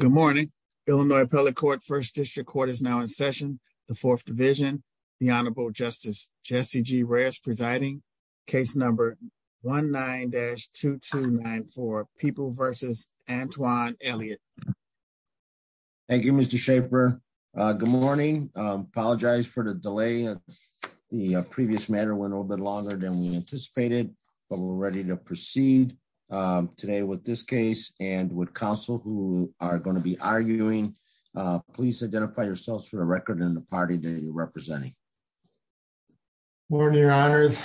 Good morning, Illinois appellate court first district court is now in session. The 4th division, the Honorable Justice Jesse G rarest presiding case number 19 dash 229 for people versus Antoine Elliott. Thank you, Mr Schaefer. Good morning, apologize for the delay. The previous matter went a little bit longer than we anticipated, but we're ready to proceed today with this case, and would counsel who are going to be arguing, please identify yourselves for the record and the party that you're representing. Morning, your honors,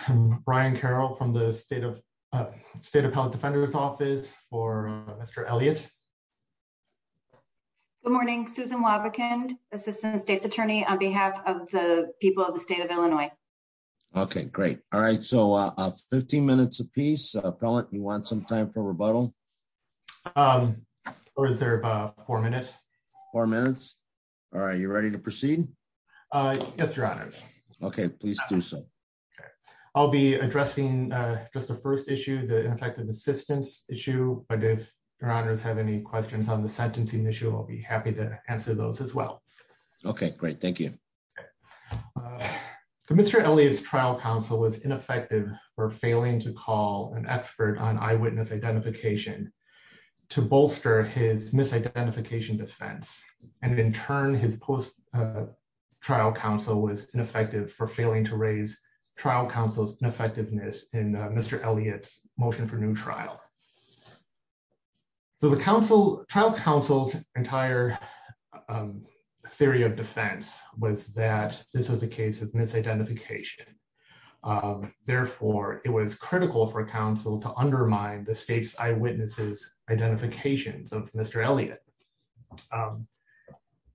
Brian Carroll from the state of state appellate defender's office for Mr. Elliott. Good morning, Susan Wobbekin, Assistant State's Attorney on behalf of the people of the state of Illinois. Okay, great. All right, so 15 minutes apiece appellate you want some time for rebuttal. Or is there about four minutes or minutes. Are you ready to proceed. Yes, your honor. Okay, please do so. I'll be addressing just the first issue the effective assistance issue, but if your honors have any questions on the sentencing issue I'll be happy to answer those as well. Okay, great. Thank you. Mr. Elliott's trial counsel was ineffective for failing to call an expert on eyewitness identification to bolster his misidentification defense, and in turn his post trial counsel was ineffective for failing to raise trial counsel's effectiveness in Mr. Elliott's motion for new trial. So the counsel trial counsel's entire theory of defense was that this was a case of misidentification. Therefore, it was critical for counsel to undermine the state's eyewitnesses identifications of Mr. Elliott.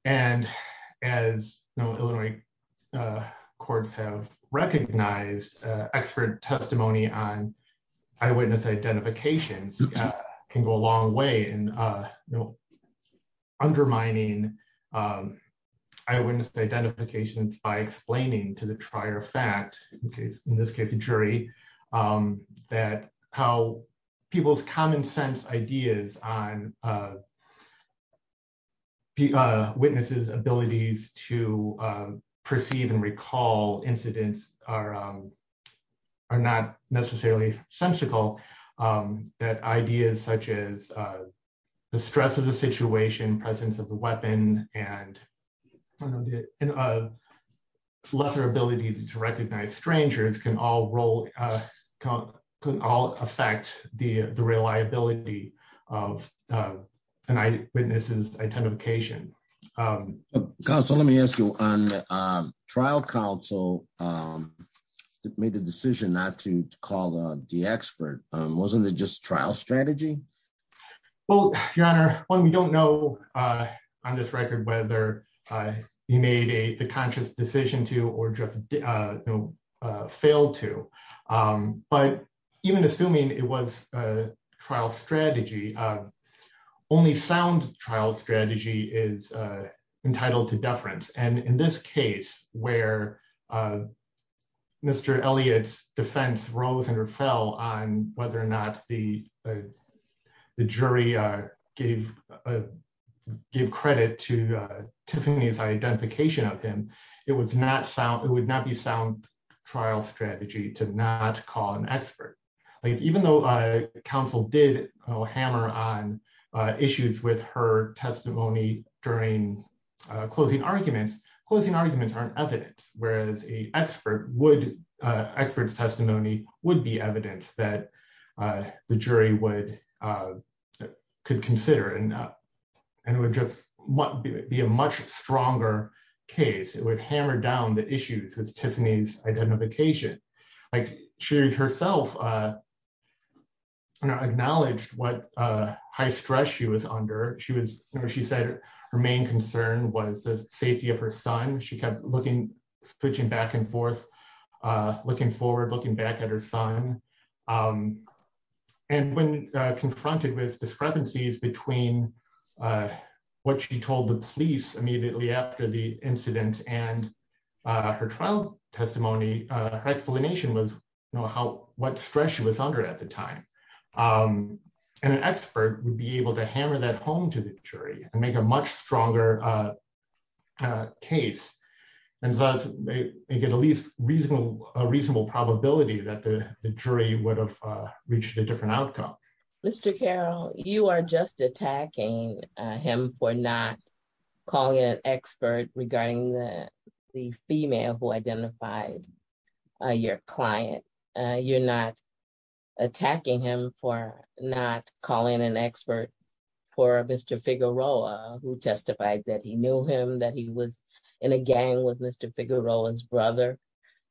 And as Illinois courts have recognized expert testimony on eyewitness identifications can go a long way in witnesses abilities to perceive and recall incidents are not necessarily sensical that ideas such as the stress of the situation presence of the weapon and lesser ability to recognize strangers can all roll can all affect the reliability of tonight witnesses identification. Because let me ask you on trial counsel. It made the decision not to call the expert wasn't it just trial strategy. Well, Your Honor, when we don't know on this record whether he made a conscious decision to or just failed to. But even assuming it was a trial strategy. Only sound trial strategy is entitled to deference and in this case where Mr. Elliott's defense rose and fell on whether or not the issues with her testimony during closing arguments closing arguments aren't evidence, whereas a expert would experts testimony would be evidence that the jury would could consider and and would just be a much stronger case it would hammer down the issues with Tiffany's identification like she herself. Acknowledged what high stress she was under she was, she said, her main concern was the safety of her son she kept looking switching back and forth, looking forward looking back at her son. And when confronted with discrepancies between what she told the police immediately after the incident and her trial testimony explanation was know how what stress was under at the time. And an expert would be able to hammer that home to the jury and make a much stronger case and get at least reasonable, a reasonable probability that the jury would have reached a different outcome. Mr Carol, you are just attacking him for not calling an expert regarding the female who identified your client. You're not attacking him for not calling an expert for Mr figure role who testified that he knew him that he was in a gang with Mr figure role as brother.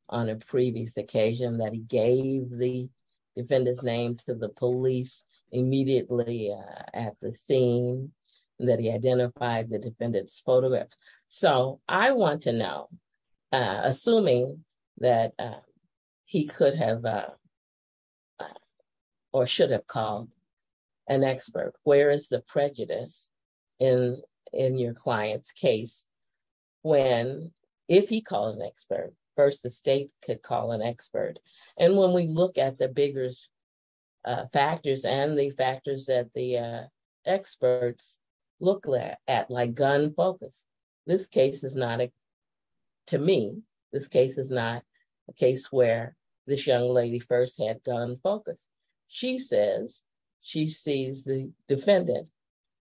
On a previous occasion that he gave the defendants name to the police immediately at the scene that he identified the defendants photographs. So, I want to know, assuming that he could have or should have called an expert, where is the prejudice in, in your client's case, when, if he called an expert first the state could call an expert. And when we look at the biggest factors and the factors that the experts look at like gun focus. This case is not, to me, this case is not a case where this young lady first had done focus. She says, she sees the defendant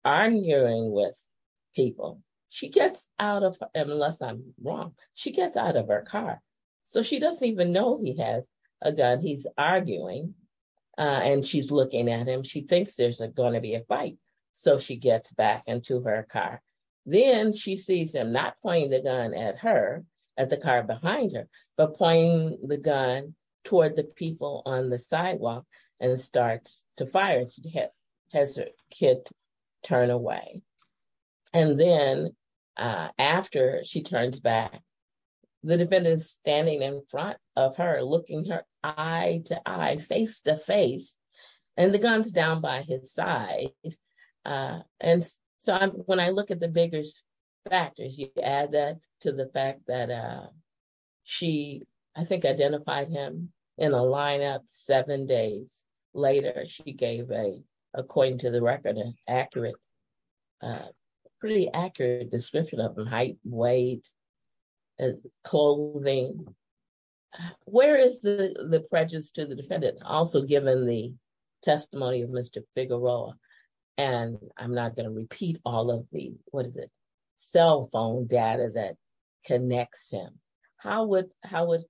arguing with people, she gets out of, unless I'm wrong, she gets out of her car. So she doesn't even know he has a gun he's arguing, and she's looking at him she thinks there's going to be a fight. So she gets back into her car. Then she sees him not playing the gun at her at the car behind her, but playing the gun toward the people on the sidewalk, and it starts to fire. And she has her kid turn away. And then, after she turns back the defendants standing in front of her looking her eye to eye face to face, and the guns down by his side. And so when I look at the biggest factors you add that to the fact that she, I think identified him in a lineup seven days later she gave a, according to the record and accurate, pretty accurate description of height, weight, and clothing. Where is the, the prejudice to the defendant, also given the testimony of Mr. Figueroa, and I'm not going to repeat all of the, what is it, cell phone data that connects him. How would, how would,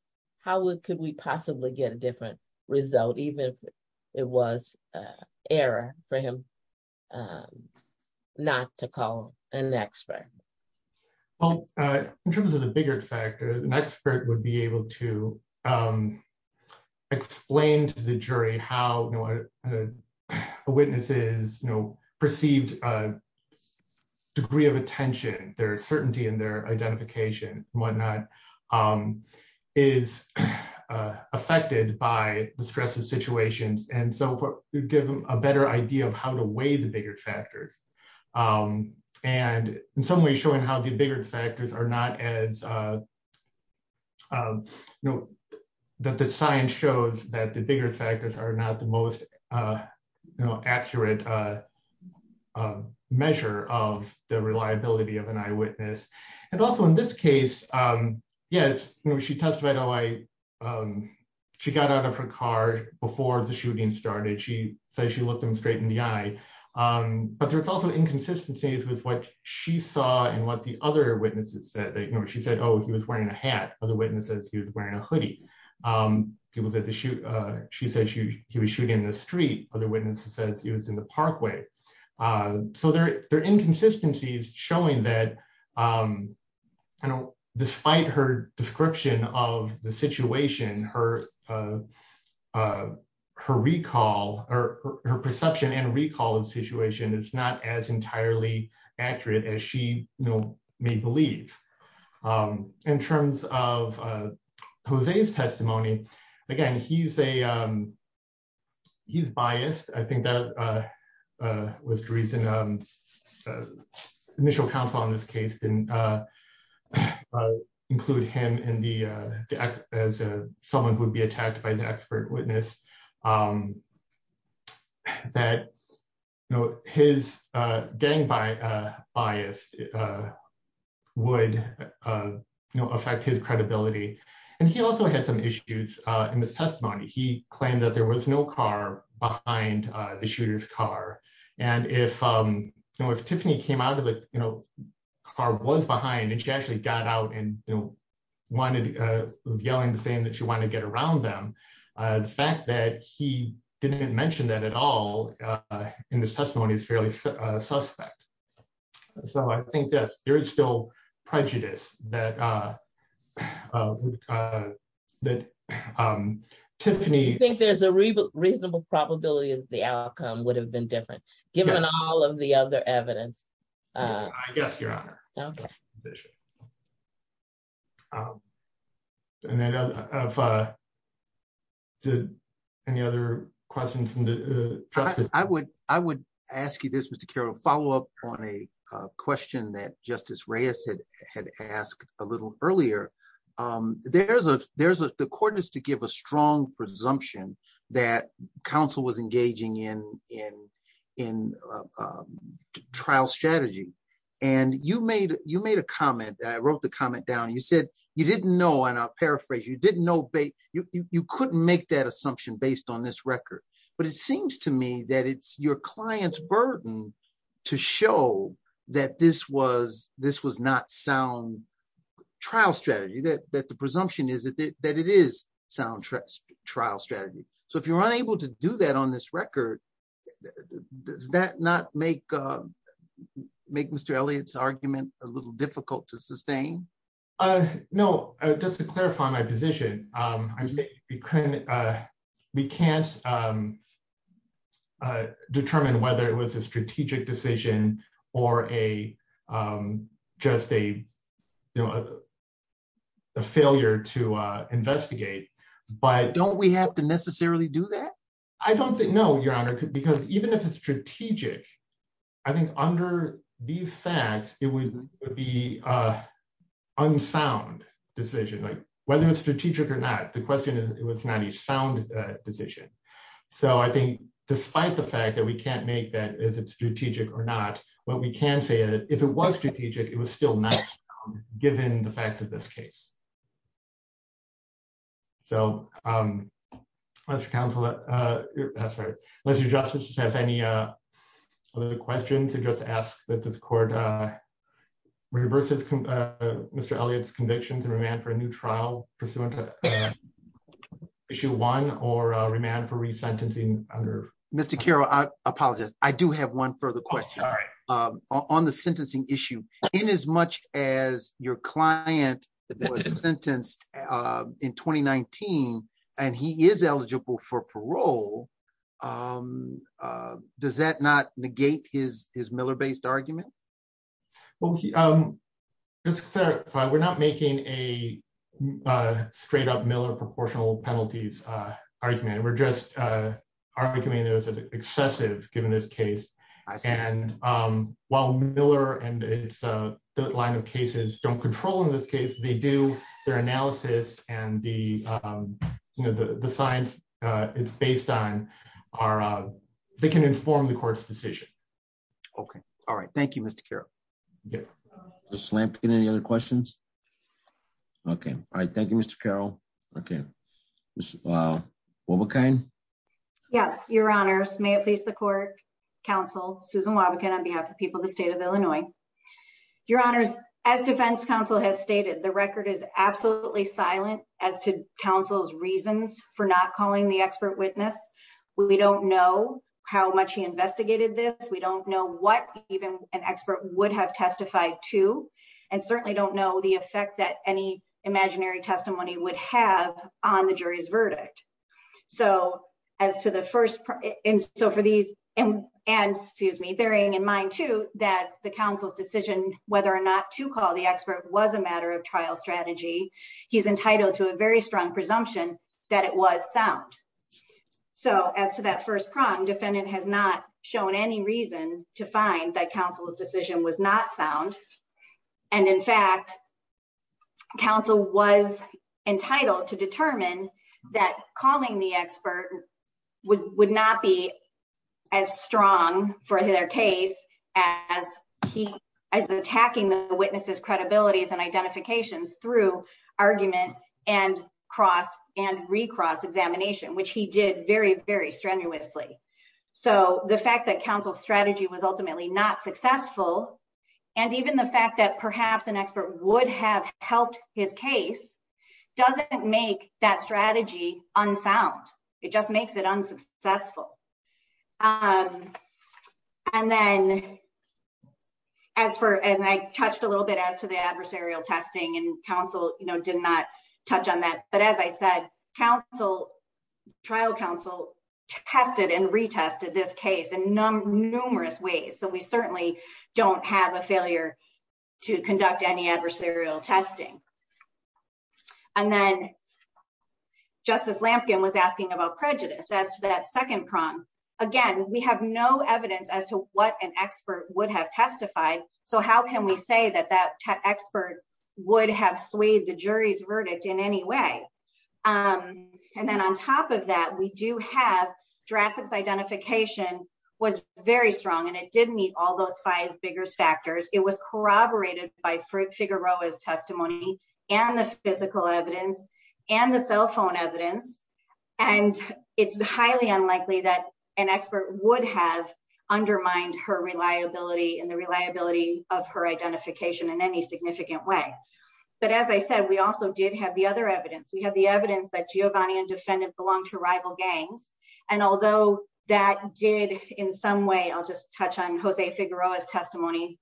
how could we possibly get a different result even if it was error for him not to call an expert. Well, in terms of the bigger factor, an expert would be able to explain to the jury how a witnesses, you know, perceived degree of attention, their certainty in their identification, whatnot, is affected by the stress of situations and so give them a better idea of how to weigh the bigger factors. And in some ways showing how the bigger factors are not as, you know, that the science shows that the bigger factors are not the most accurate measure of the reliability of an eyewitness. And also in this case, yes, she testified, oh I, she got out of her car before the shooting started, she said she looked him straight in the eye. But there's also inconsistencies with what she saw and what the other witnesses said that, you know, she said, oh, he was wearing a hat. Other witnesses, he was wearing a hoodie. He was at the shoot, she said he was shooting in the street. Other witnesses said he was in the parkway. So there are inconsistencies showing that despite her description of the situation, her recall or her perception and recall of the situation is not as entirely accurate as she may believe. In terms of Jose's testimony, again, he's a, he's biased. I think that was the reason the initial counsel on this case didn't include him as someone who would be attacked by the expert witness. That, you know, his gang bias would affect his credibility. And he also had some issues in his testimony. He claimed that there was no car behind the shooter's car. And if, you know, if Tiffany came out of the, you know, car was behind and she actually got out and, you know, there is still prejudice that Tiffany- I think there's a reasonable probability that the outcome would have been different, given all of the other evidence. I guess, Your Honor. Okay. Any other questions? I would, I would ask you this, Mr. Carroll, follow up on a question that Justice Reyes had asked a little earlier. There's a, there's a, the court is to give a strong presumption that counsel was engaging in, in, in trial strategy. And you made, you made a comment. I wrote the comment down. You said you didn't know, and I'll paraphrase, you didn't know, you couldn't make that assumption based on this record. But it seems to me that it's your client's burden to show that this was, this was not sound trial strategy, that, that the presumption is that, that it is sound trial strategy. So if you're unable to do that on this record, does that not make, make Mr. Elliott's argument a little difficult to sustain? No, just to clarify my position. I'm saying we couldn't, we can't determine whether it was a strategic decision or a, just a, you know, a failure to investigate, but... Don't we have to necessarily do that? I don't think, no, Your Honor, because even if it's strategic, I think under these facts, it would be a unsound decision. Like, whether it's strategic or not, the question is, it's not a sound decision. So I think, despite the fact that we can't make that, is it strategic or not, what we can say is, if it was strategic, it was still not given the facts of this case. So, Mr. Counselor, I'm sorry, Mr. Justice, do you have any other questions to just ask that this court reverses Mr. Elliott's conviction to remand for a new trial pursuant to Issue 1 or remand for resentencing under... If he is sentenced in 2019 and he is eligible for parole, does that not negate his Miller-based argument? Well, just to clarify, we're not making a decision based on their analysis and the science it's based on. They can inform the court's decision. Okay. All right. Thank you, Mr. Carroll. Ms. Lampkin, any other questions? Okay. All right. Thank you, Mr. Carroll. Okay. Ms. Wobbekein? Yes, Your Honors. May it please the court, counsel, Susan Wobbekin, on behalf of the people of the state of Illinois. Your Honors, as defense counsel has stated, the record is absolutely silent as to counsel's reasons for not calling the expert witness. We don't know how much he investigated this. We don't know what even an expert would have testified to, and certainly don't know the effect that any imaginary testimony would have on the jury's verdict. So, as to the first, and so for these, and, excuse me, bearing in mind, too, that the counsel's decision, whether or not to call the expert was a matter of trial strategy, he's entitled to a very strong presumption that it was sound. So, as to that first prong, defendant has not shown any reason to find that counsel's decision was not sound. And, in fact, counsel was entitled to determine that calling the expert would not be as strong for their case as attacking the witness's credibilities and identifications through argument and recross examination, which he did very, very strenuously. So, the fact that counsel's strategy was ultimately not successful, and even the fact that perhaps an expert would have helped his case, doesn't make that strategy unsound. It just makes it unsuccessful. And then, as for, and I touched a little bit as to the adversarial testing, and counsel, you know, did not touch on that, but as I said, trial counsel tested and retested this case in numerous ways. So, we certainly don't have a failure to conduct any adversarial testing. And then, Justice Lampkin was asking about prejudice, as to that second prong. Again, we have no evidence as to what an expert would have testified, so how can we say that that expert would have swayed the jury's verdict in any way? And then, on top of that, we do have, Jurassic's identification was very strong, and it did meet all those five biggest factors. It was corroborated by Figueroa's testimony, and the physical evidence, and the cell phone evidence, and it's highly unlikely that an expert would have undermined her reliability and the reliability of her identification in any significant way. But, as I said, we also did have the other evidence. We have the evidence that Giovanni and defendant belonged to rival gangs, and although that did, in some way, I'll just touch on Jose Figueroa's testimony,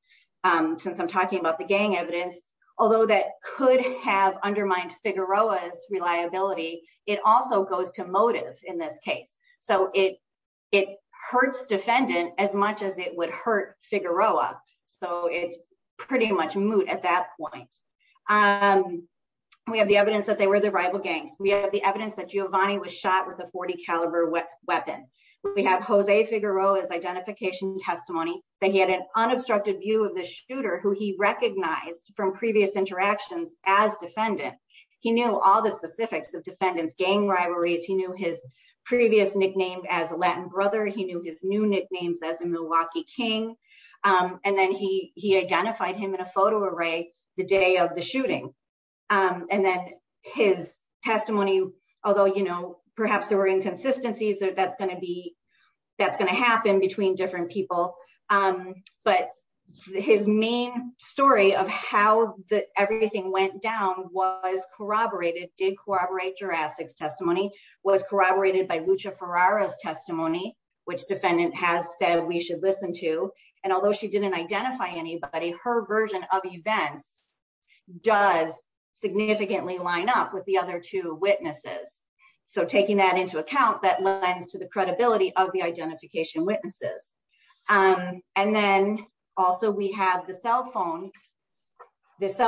since I'm talking about the gang evidence, although that could have undermined Figueroa's reliability, it also goes to motive in this case. So, it hurts defendant as much as it would hurt Figueroa, so it's pretty much moot at that point. We have the evidence that they were the rival gangs. We have the evidence that Giovanni was shot with a .40 caliber weapon. We have Jose Figueroa's identification testimony, that he had an unobstructed view of the shooter who he recognized from previous interactions as defendant. He knew all the specifics of defendant's gang rivalries, he knew his previous nickname as a Latin brother, he knew his new nicknames as a Milwaukee King, and then he identified him in a photo array the day of the shooting. And then his testimony, although perhaps there were inconsistencies, that's going to happen between different people, but his main story of how everything went down was corroborated, did corroborate Jurassic's testimony, was corroborated by Lucha Ferrara's testimony, which defendant has said we should listen to. And although she didn't identify anybody, her version of events does significantly line up with the other two witnesses. So, taking that into account, that lends to the credibility of the identification witnesses. And then also we have the cell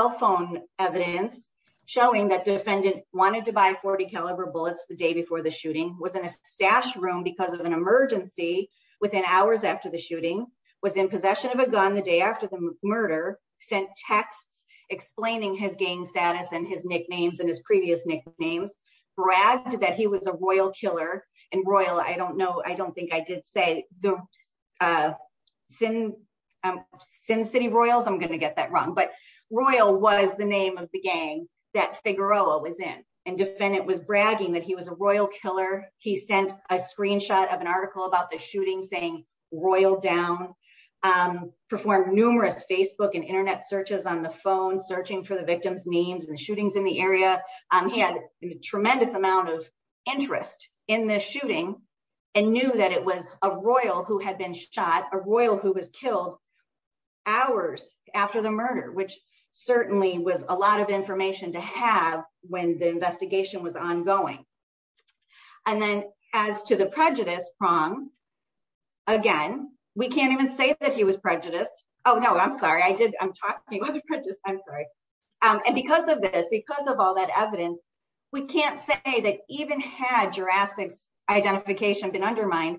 phone evidence showing that defendant wanted to buy .40 caliber bullets the day before the shooting, was in a stashed room because of an emergency within hours after the shooting, was in possession of a gun the day after the murder, sent texts explaining his gang status and his nicknames and his previous nicknames, bragged that he was a royal killer. And royal, I don't know, I don't think I did say the Sin City Royals, I'm going to get that wrong, but royal was the name of the gang that Figueroa was in, and defendant was bragging that he was a royal killer. He sent a screenshot of an article about the shooting saying royal down, performed numerous Facebook and internet searches on the phone searching for the victim's names and shootings in the area. He had a tremendous amount of interest in this shooting and knew that it was a royal who had been shot, a royal who was killed hours after the murder, which certainly was a lot of information to have when the investigation was ongoing. And then as to the prejudice prong, again, we can't even say that he was prejudiced. Oh no, I'm sorry, I'm talking about the prejudice, I'm sorry. And because of this, because of all that evidence, we can't say that even had Jurassic's identification been undermined,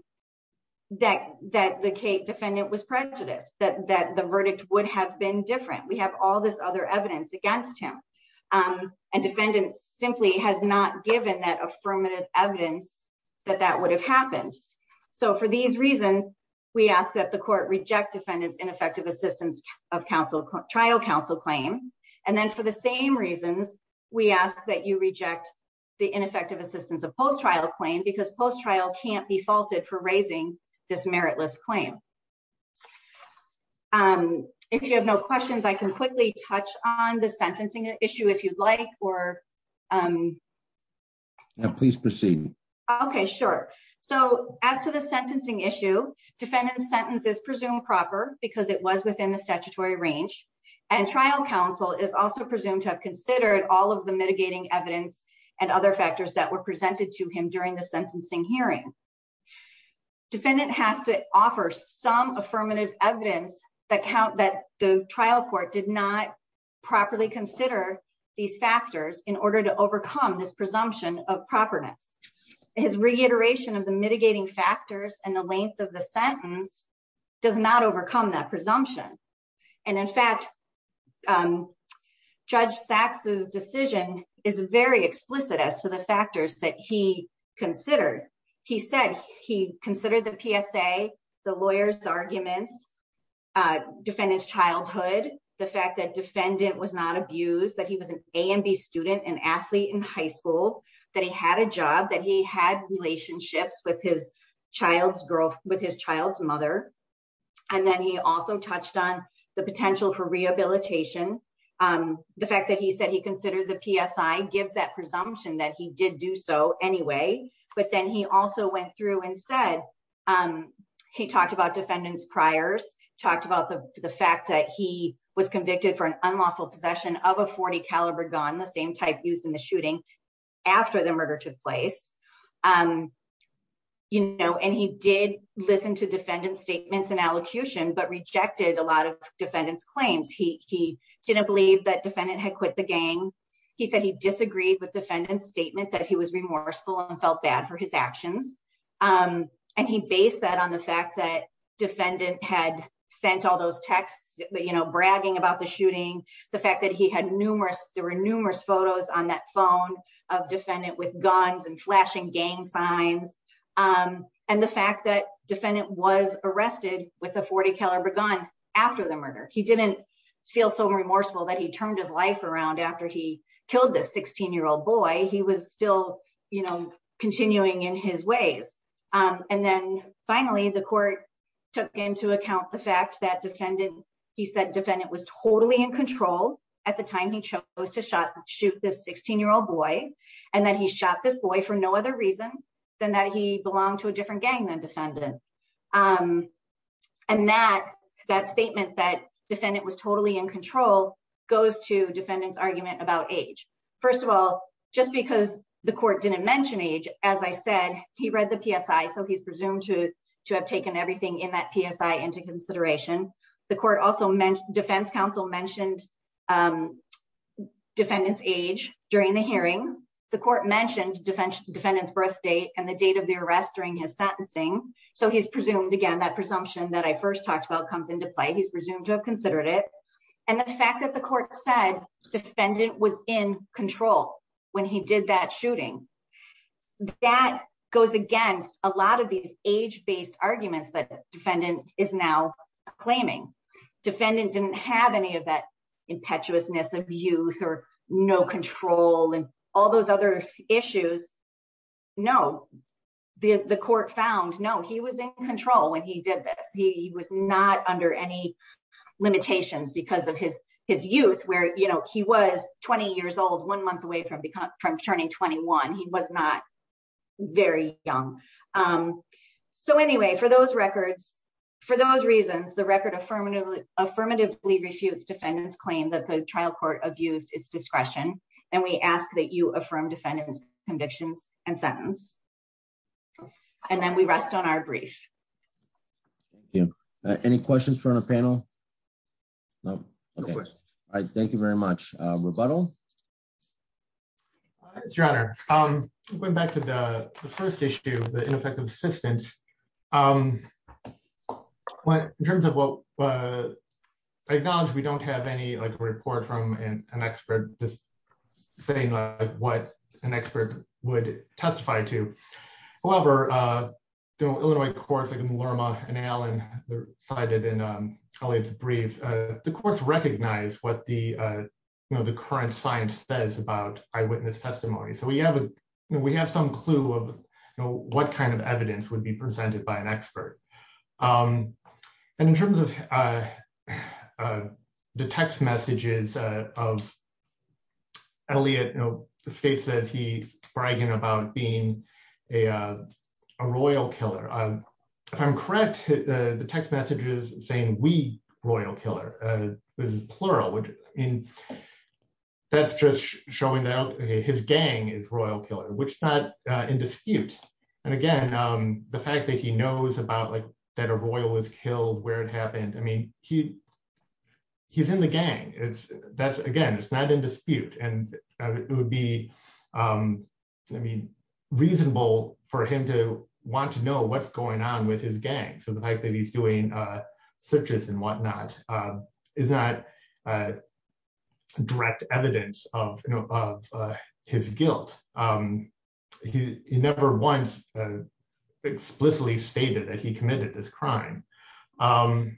that the defendant was prejudiced, that the verdict would have been different. We have all this other evidence against him, and defendants simply has not given that affirmative evidence that that would have happened. So for these reasons, we ask that the court reject defendants ineffective assistance of trial counsel claim. And then for the same reasons, we ask that you reject the ineffective assistance of post trial claim because post trial can't be faulted for raising this meritless claim. And if you have no questions, I can quickly touch on the sentencing issue if you'd like, or. Please proceed. Okay, sure. So, as to the sentencing issue defendant sentences presumed proper because it was within the statutory range and trial counsel is also presumed to have considered all of the mitigating evidence and other factors that were presented to him during the sentencing hearing. Defendant has to offer some affirmative evidence that count that the trial court did not properly consider these factors in order to overcome this presumption of properness is reiteration of the mitigating factors and the length of the sentence does not overcome that presumption. And in fact, Judge saxes decision is very explicit as to the factors that he considered. He said he considered the PSA, the lawyers arguments defend his childhood, the fact that defendant was not abused that he was an A and B student and athlete in high school, that he had a job that he had relationships with his child's growth with his child's mother. And then he also touched on the potential for rehabilitation. The fact that he said he considered the PSI gives that presumption that he did do so anyway, but then he also went through and said, he talked about defendants priors talked about the fact that he was convicted for an unlawful possession of a 40 caliber gun the same type used in the shooting. After the murder took place. You know, and he did listen to defendants statements and allocution but rejected a lot of defendants claims he didn't believe that defendant had quit the gang. He said he disagreed with defendants statement that he was remorseful and felt bad for his actions. And he based that on the fact that defendant had sent all those texts, but you know bragging about the shooting, the fact that he had numerous there were numerous photos on that phone of defendant with guns and flashing gang signs. And the fact that defendant was arrested with a 40 caliber gun. After the murder, he didn't feel so remorseful that he turned his life around after he killed this 16 year old boy he was still, you know, continuing in his ways. And then, finally, the court took into account the fact that defendant. He said defendant was totally in control. At the time he chose to shot, shoot this 16 year old boy, and then he shot this boy for no other reason than that he belonged to a different gang And that that statement that defendant was totally in control goes to defendants argument about age. First of all, just because the court didn't mention age, as I said, he read the PSI so he's presumed to to have taken everything in that PSI into consideration. The court also meant Defense Council mentioned defendants age during the hearing, the court mentioned defense defendants birth date and the date of the arrest during his sentencing, so he's presumed again that presumption that I first talked about comes into play he's presumed to have considered it. And the fact that the court said defendant was in control when he did that shooting. That goes against a lot of these age based arguments that defendant is now claiming defendant didn't have any of that impetuousness of youth or no control and all those other issues. No, the court found no he was in control when he did this, he was not under any limitations because of his, his youth where you know he was 20 years old one month away from becoming from turning 21 he was not very young. So anyway, for those records. For those reasons, the record affirmatively affirmatively refuse defendants claim that the trial court abused its discretion, and we ask that you affirm defendants convictions and sentence. And then we rest on our brief. Any questions from the panel. No. I thank you very much rebuttal. Your Honor, I'm going back to the first issue, the ineffective assistance. What in terms of what acknowledge we don't have any like report from an expert, just saying like what an expert would testify to. However, Illinois courts like Lerma and Allen cited in a brief, the courts recognize what the, you know, the current science says about eyewitness testimony so we have a, we have some clue of what kind of evidence would be presented by an expert. And in terms of the text messages of Elliot know the state says he's bragging about being a royal killer. If I'm correct, the text messages saying we royal killer is plural which in That's just showing that his gang is royal killer which not in dispute. And again, the fact that he knows about like that a royal is killed where it happened. I mean, he He's in the gang. It's that's again it's not in dispute and it would be Reasonable for him to want to know what's going on with his gang. So the fact that he's doing searches and whatnot. Is that Direct evidence of his guilt. He never once explicitly stated that he committed this crime. For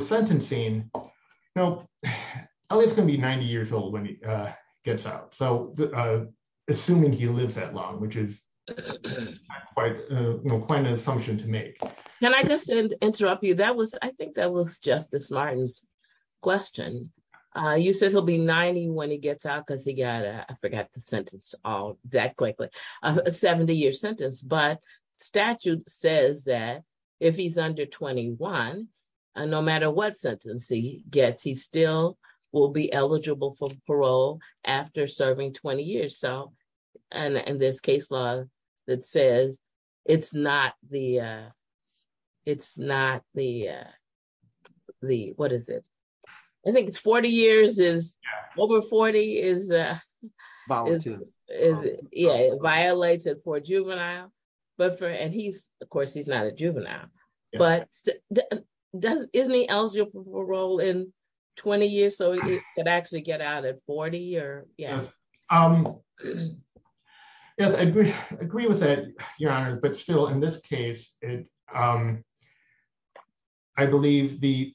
sentencing. No, it's going to be 90 years old when he gets out. So, assuming he lives that long, which is Quite quite an assumption to make. Can I just interrupt you. That was, I think that was Justice Martin's question. You said he'll be 90 when he gets out because he got I forgot the sentence all that quickly 70 year sentence but statute says that if he's under 21 And no matter what sentencing gets he still will be eligible for parole after serving 20 years so and this case law that says it's not the It's not the The, what is it. I think it's 40 years is over 40 is Violated for juvenile, but for and he's, of course, he's not a juvenile, but Doesn't isn't he eligible for parole in 20 years so it actually get out at 40 or I agree with that, Your Honor, but still in this case. I believe the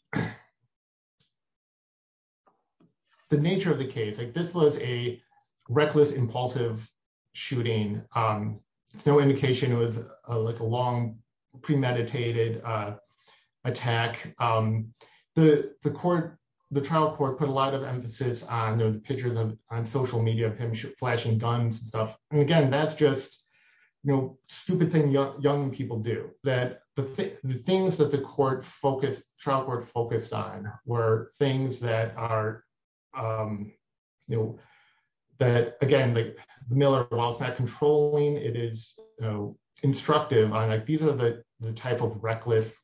The nature of the case like this was a reckless impulsive shooting no indication. It was like a long pre meditated Attack. The, the court, the trial court put a lot of emphasis on the pictures of on social media of him flashing guns and stuff. And again, that's just No stupid thing young people do that. The things that the court focused trial court focused on were things that are That, again, like Miller was not controlling it is instructive on like these are the type of reckless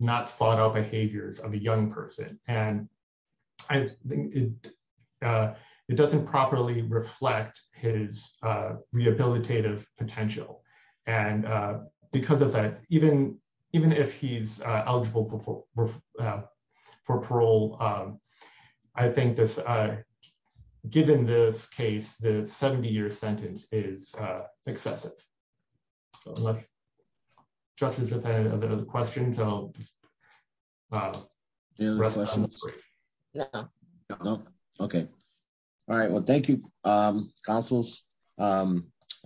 Not thought out behaviors of a young person and I It doesn't properly reflect his rehabilitative potential and because of that, even, even if he's eligible For parole. I think this. Given this case, the 70 year sentence is excessive. Just as a bit of a question. Okay. All right. Well, thank you councils.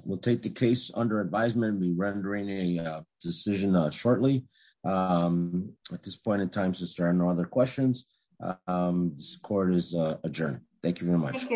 Will take the case under advisement be rendering a decision on shortly. At this point in time, since there are no other questions. Court is adjourned. Thank you very much.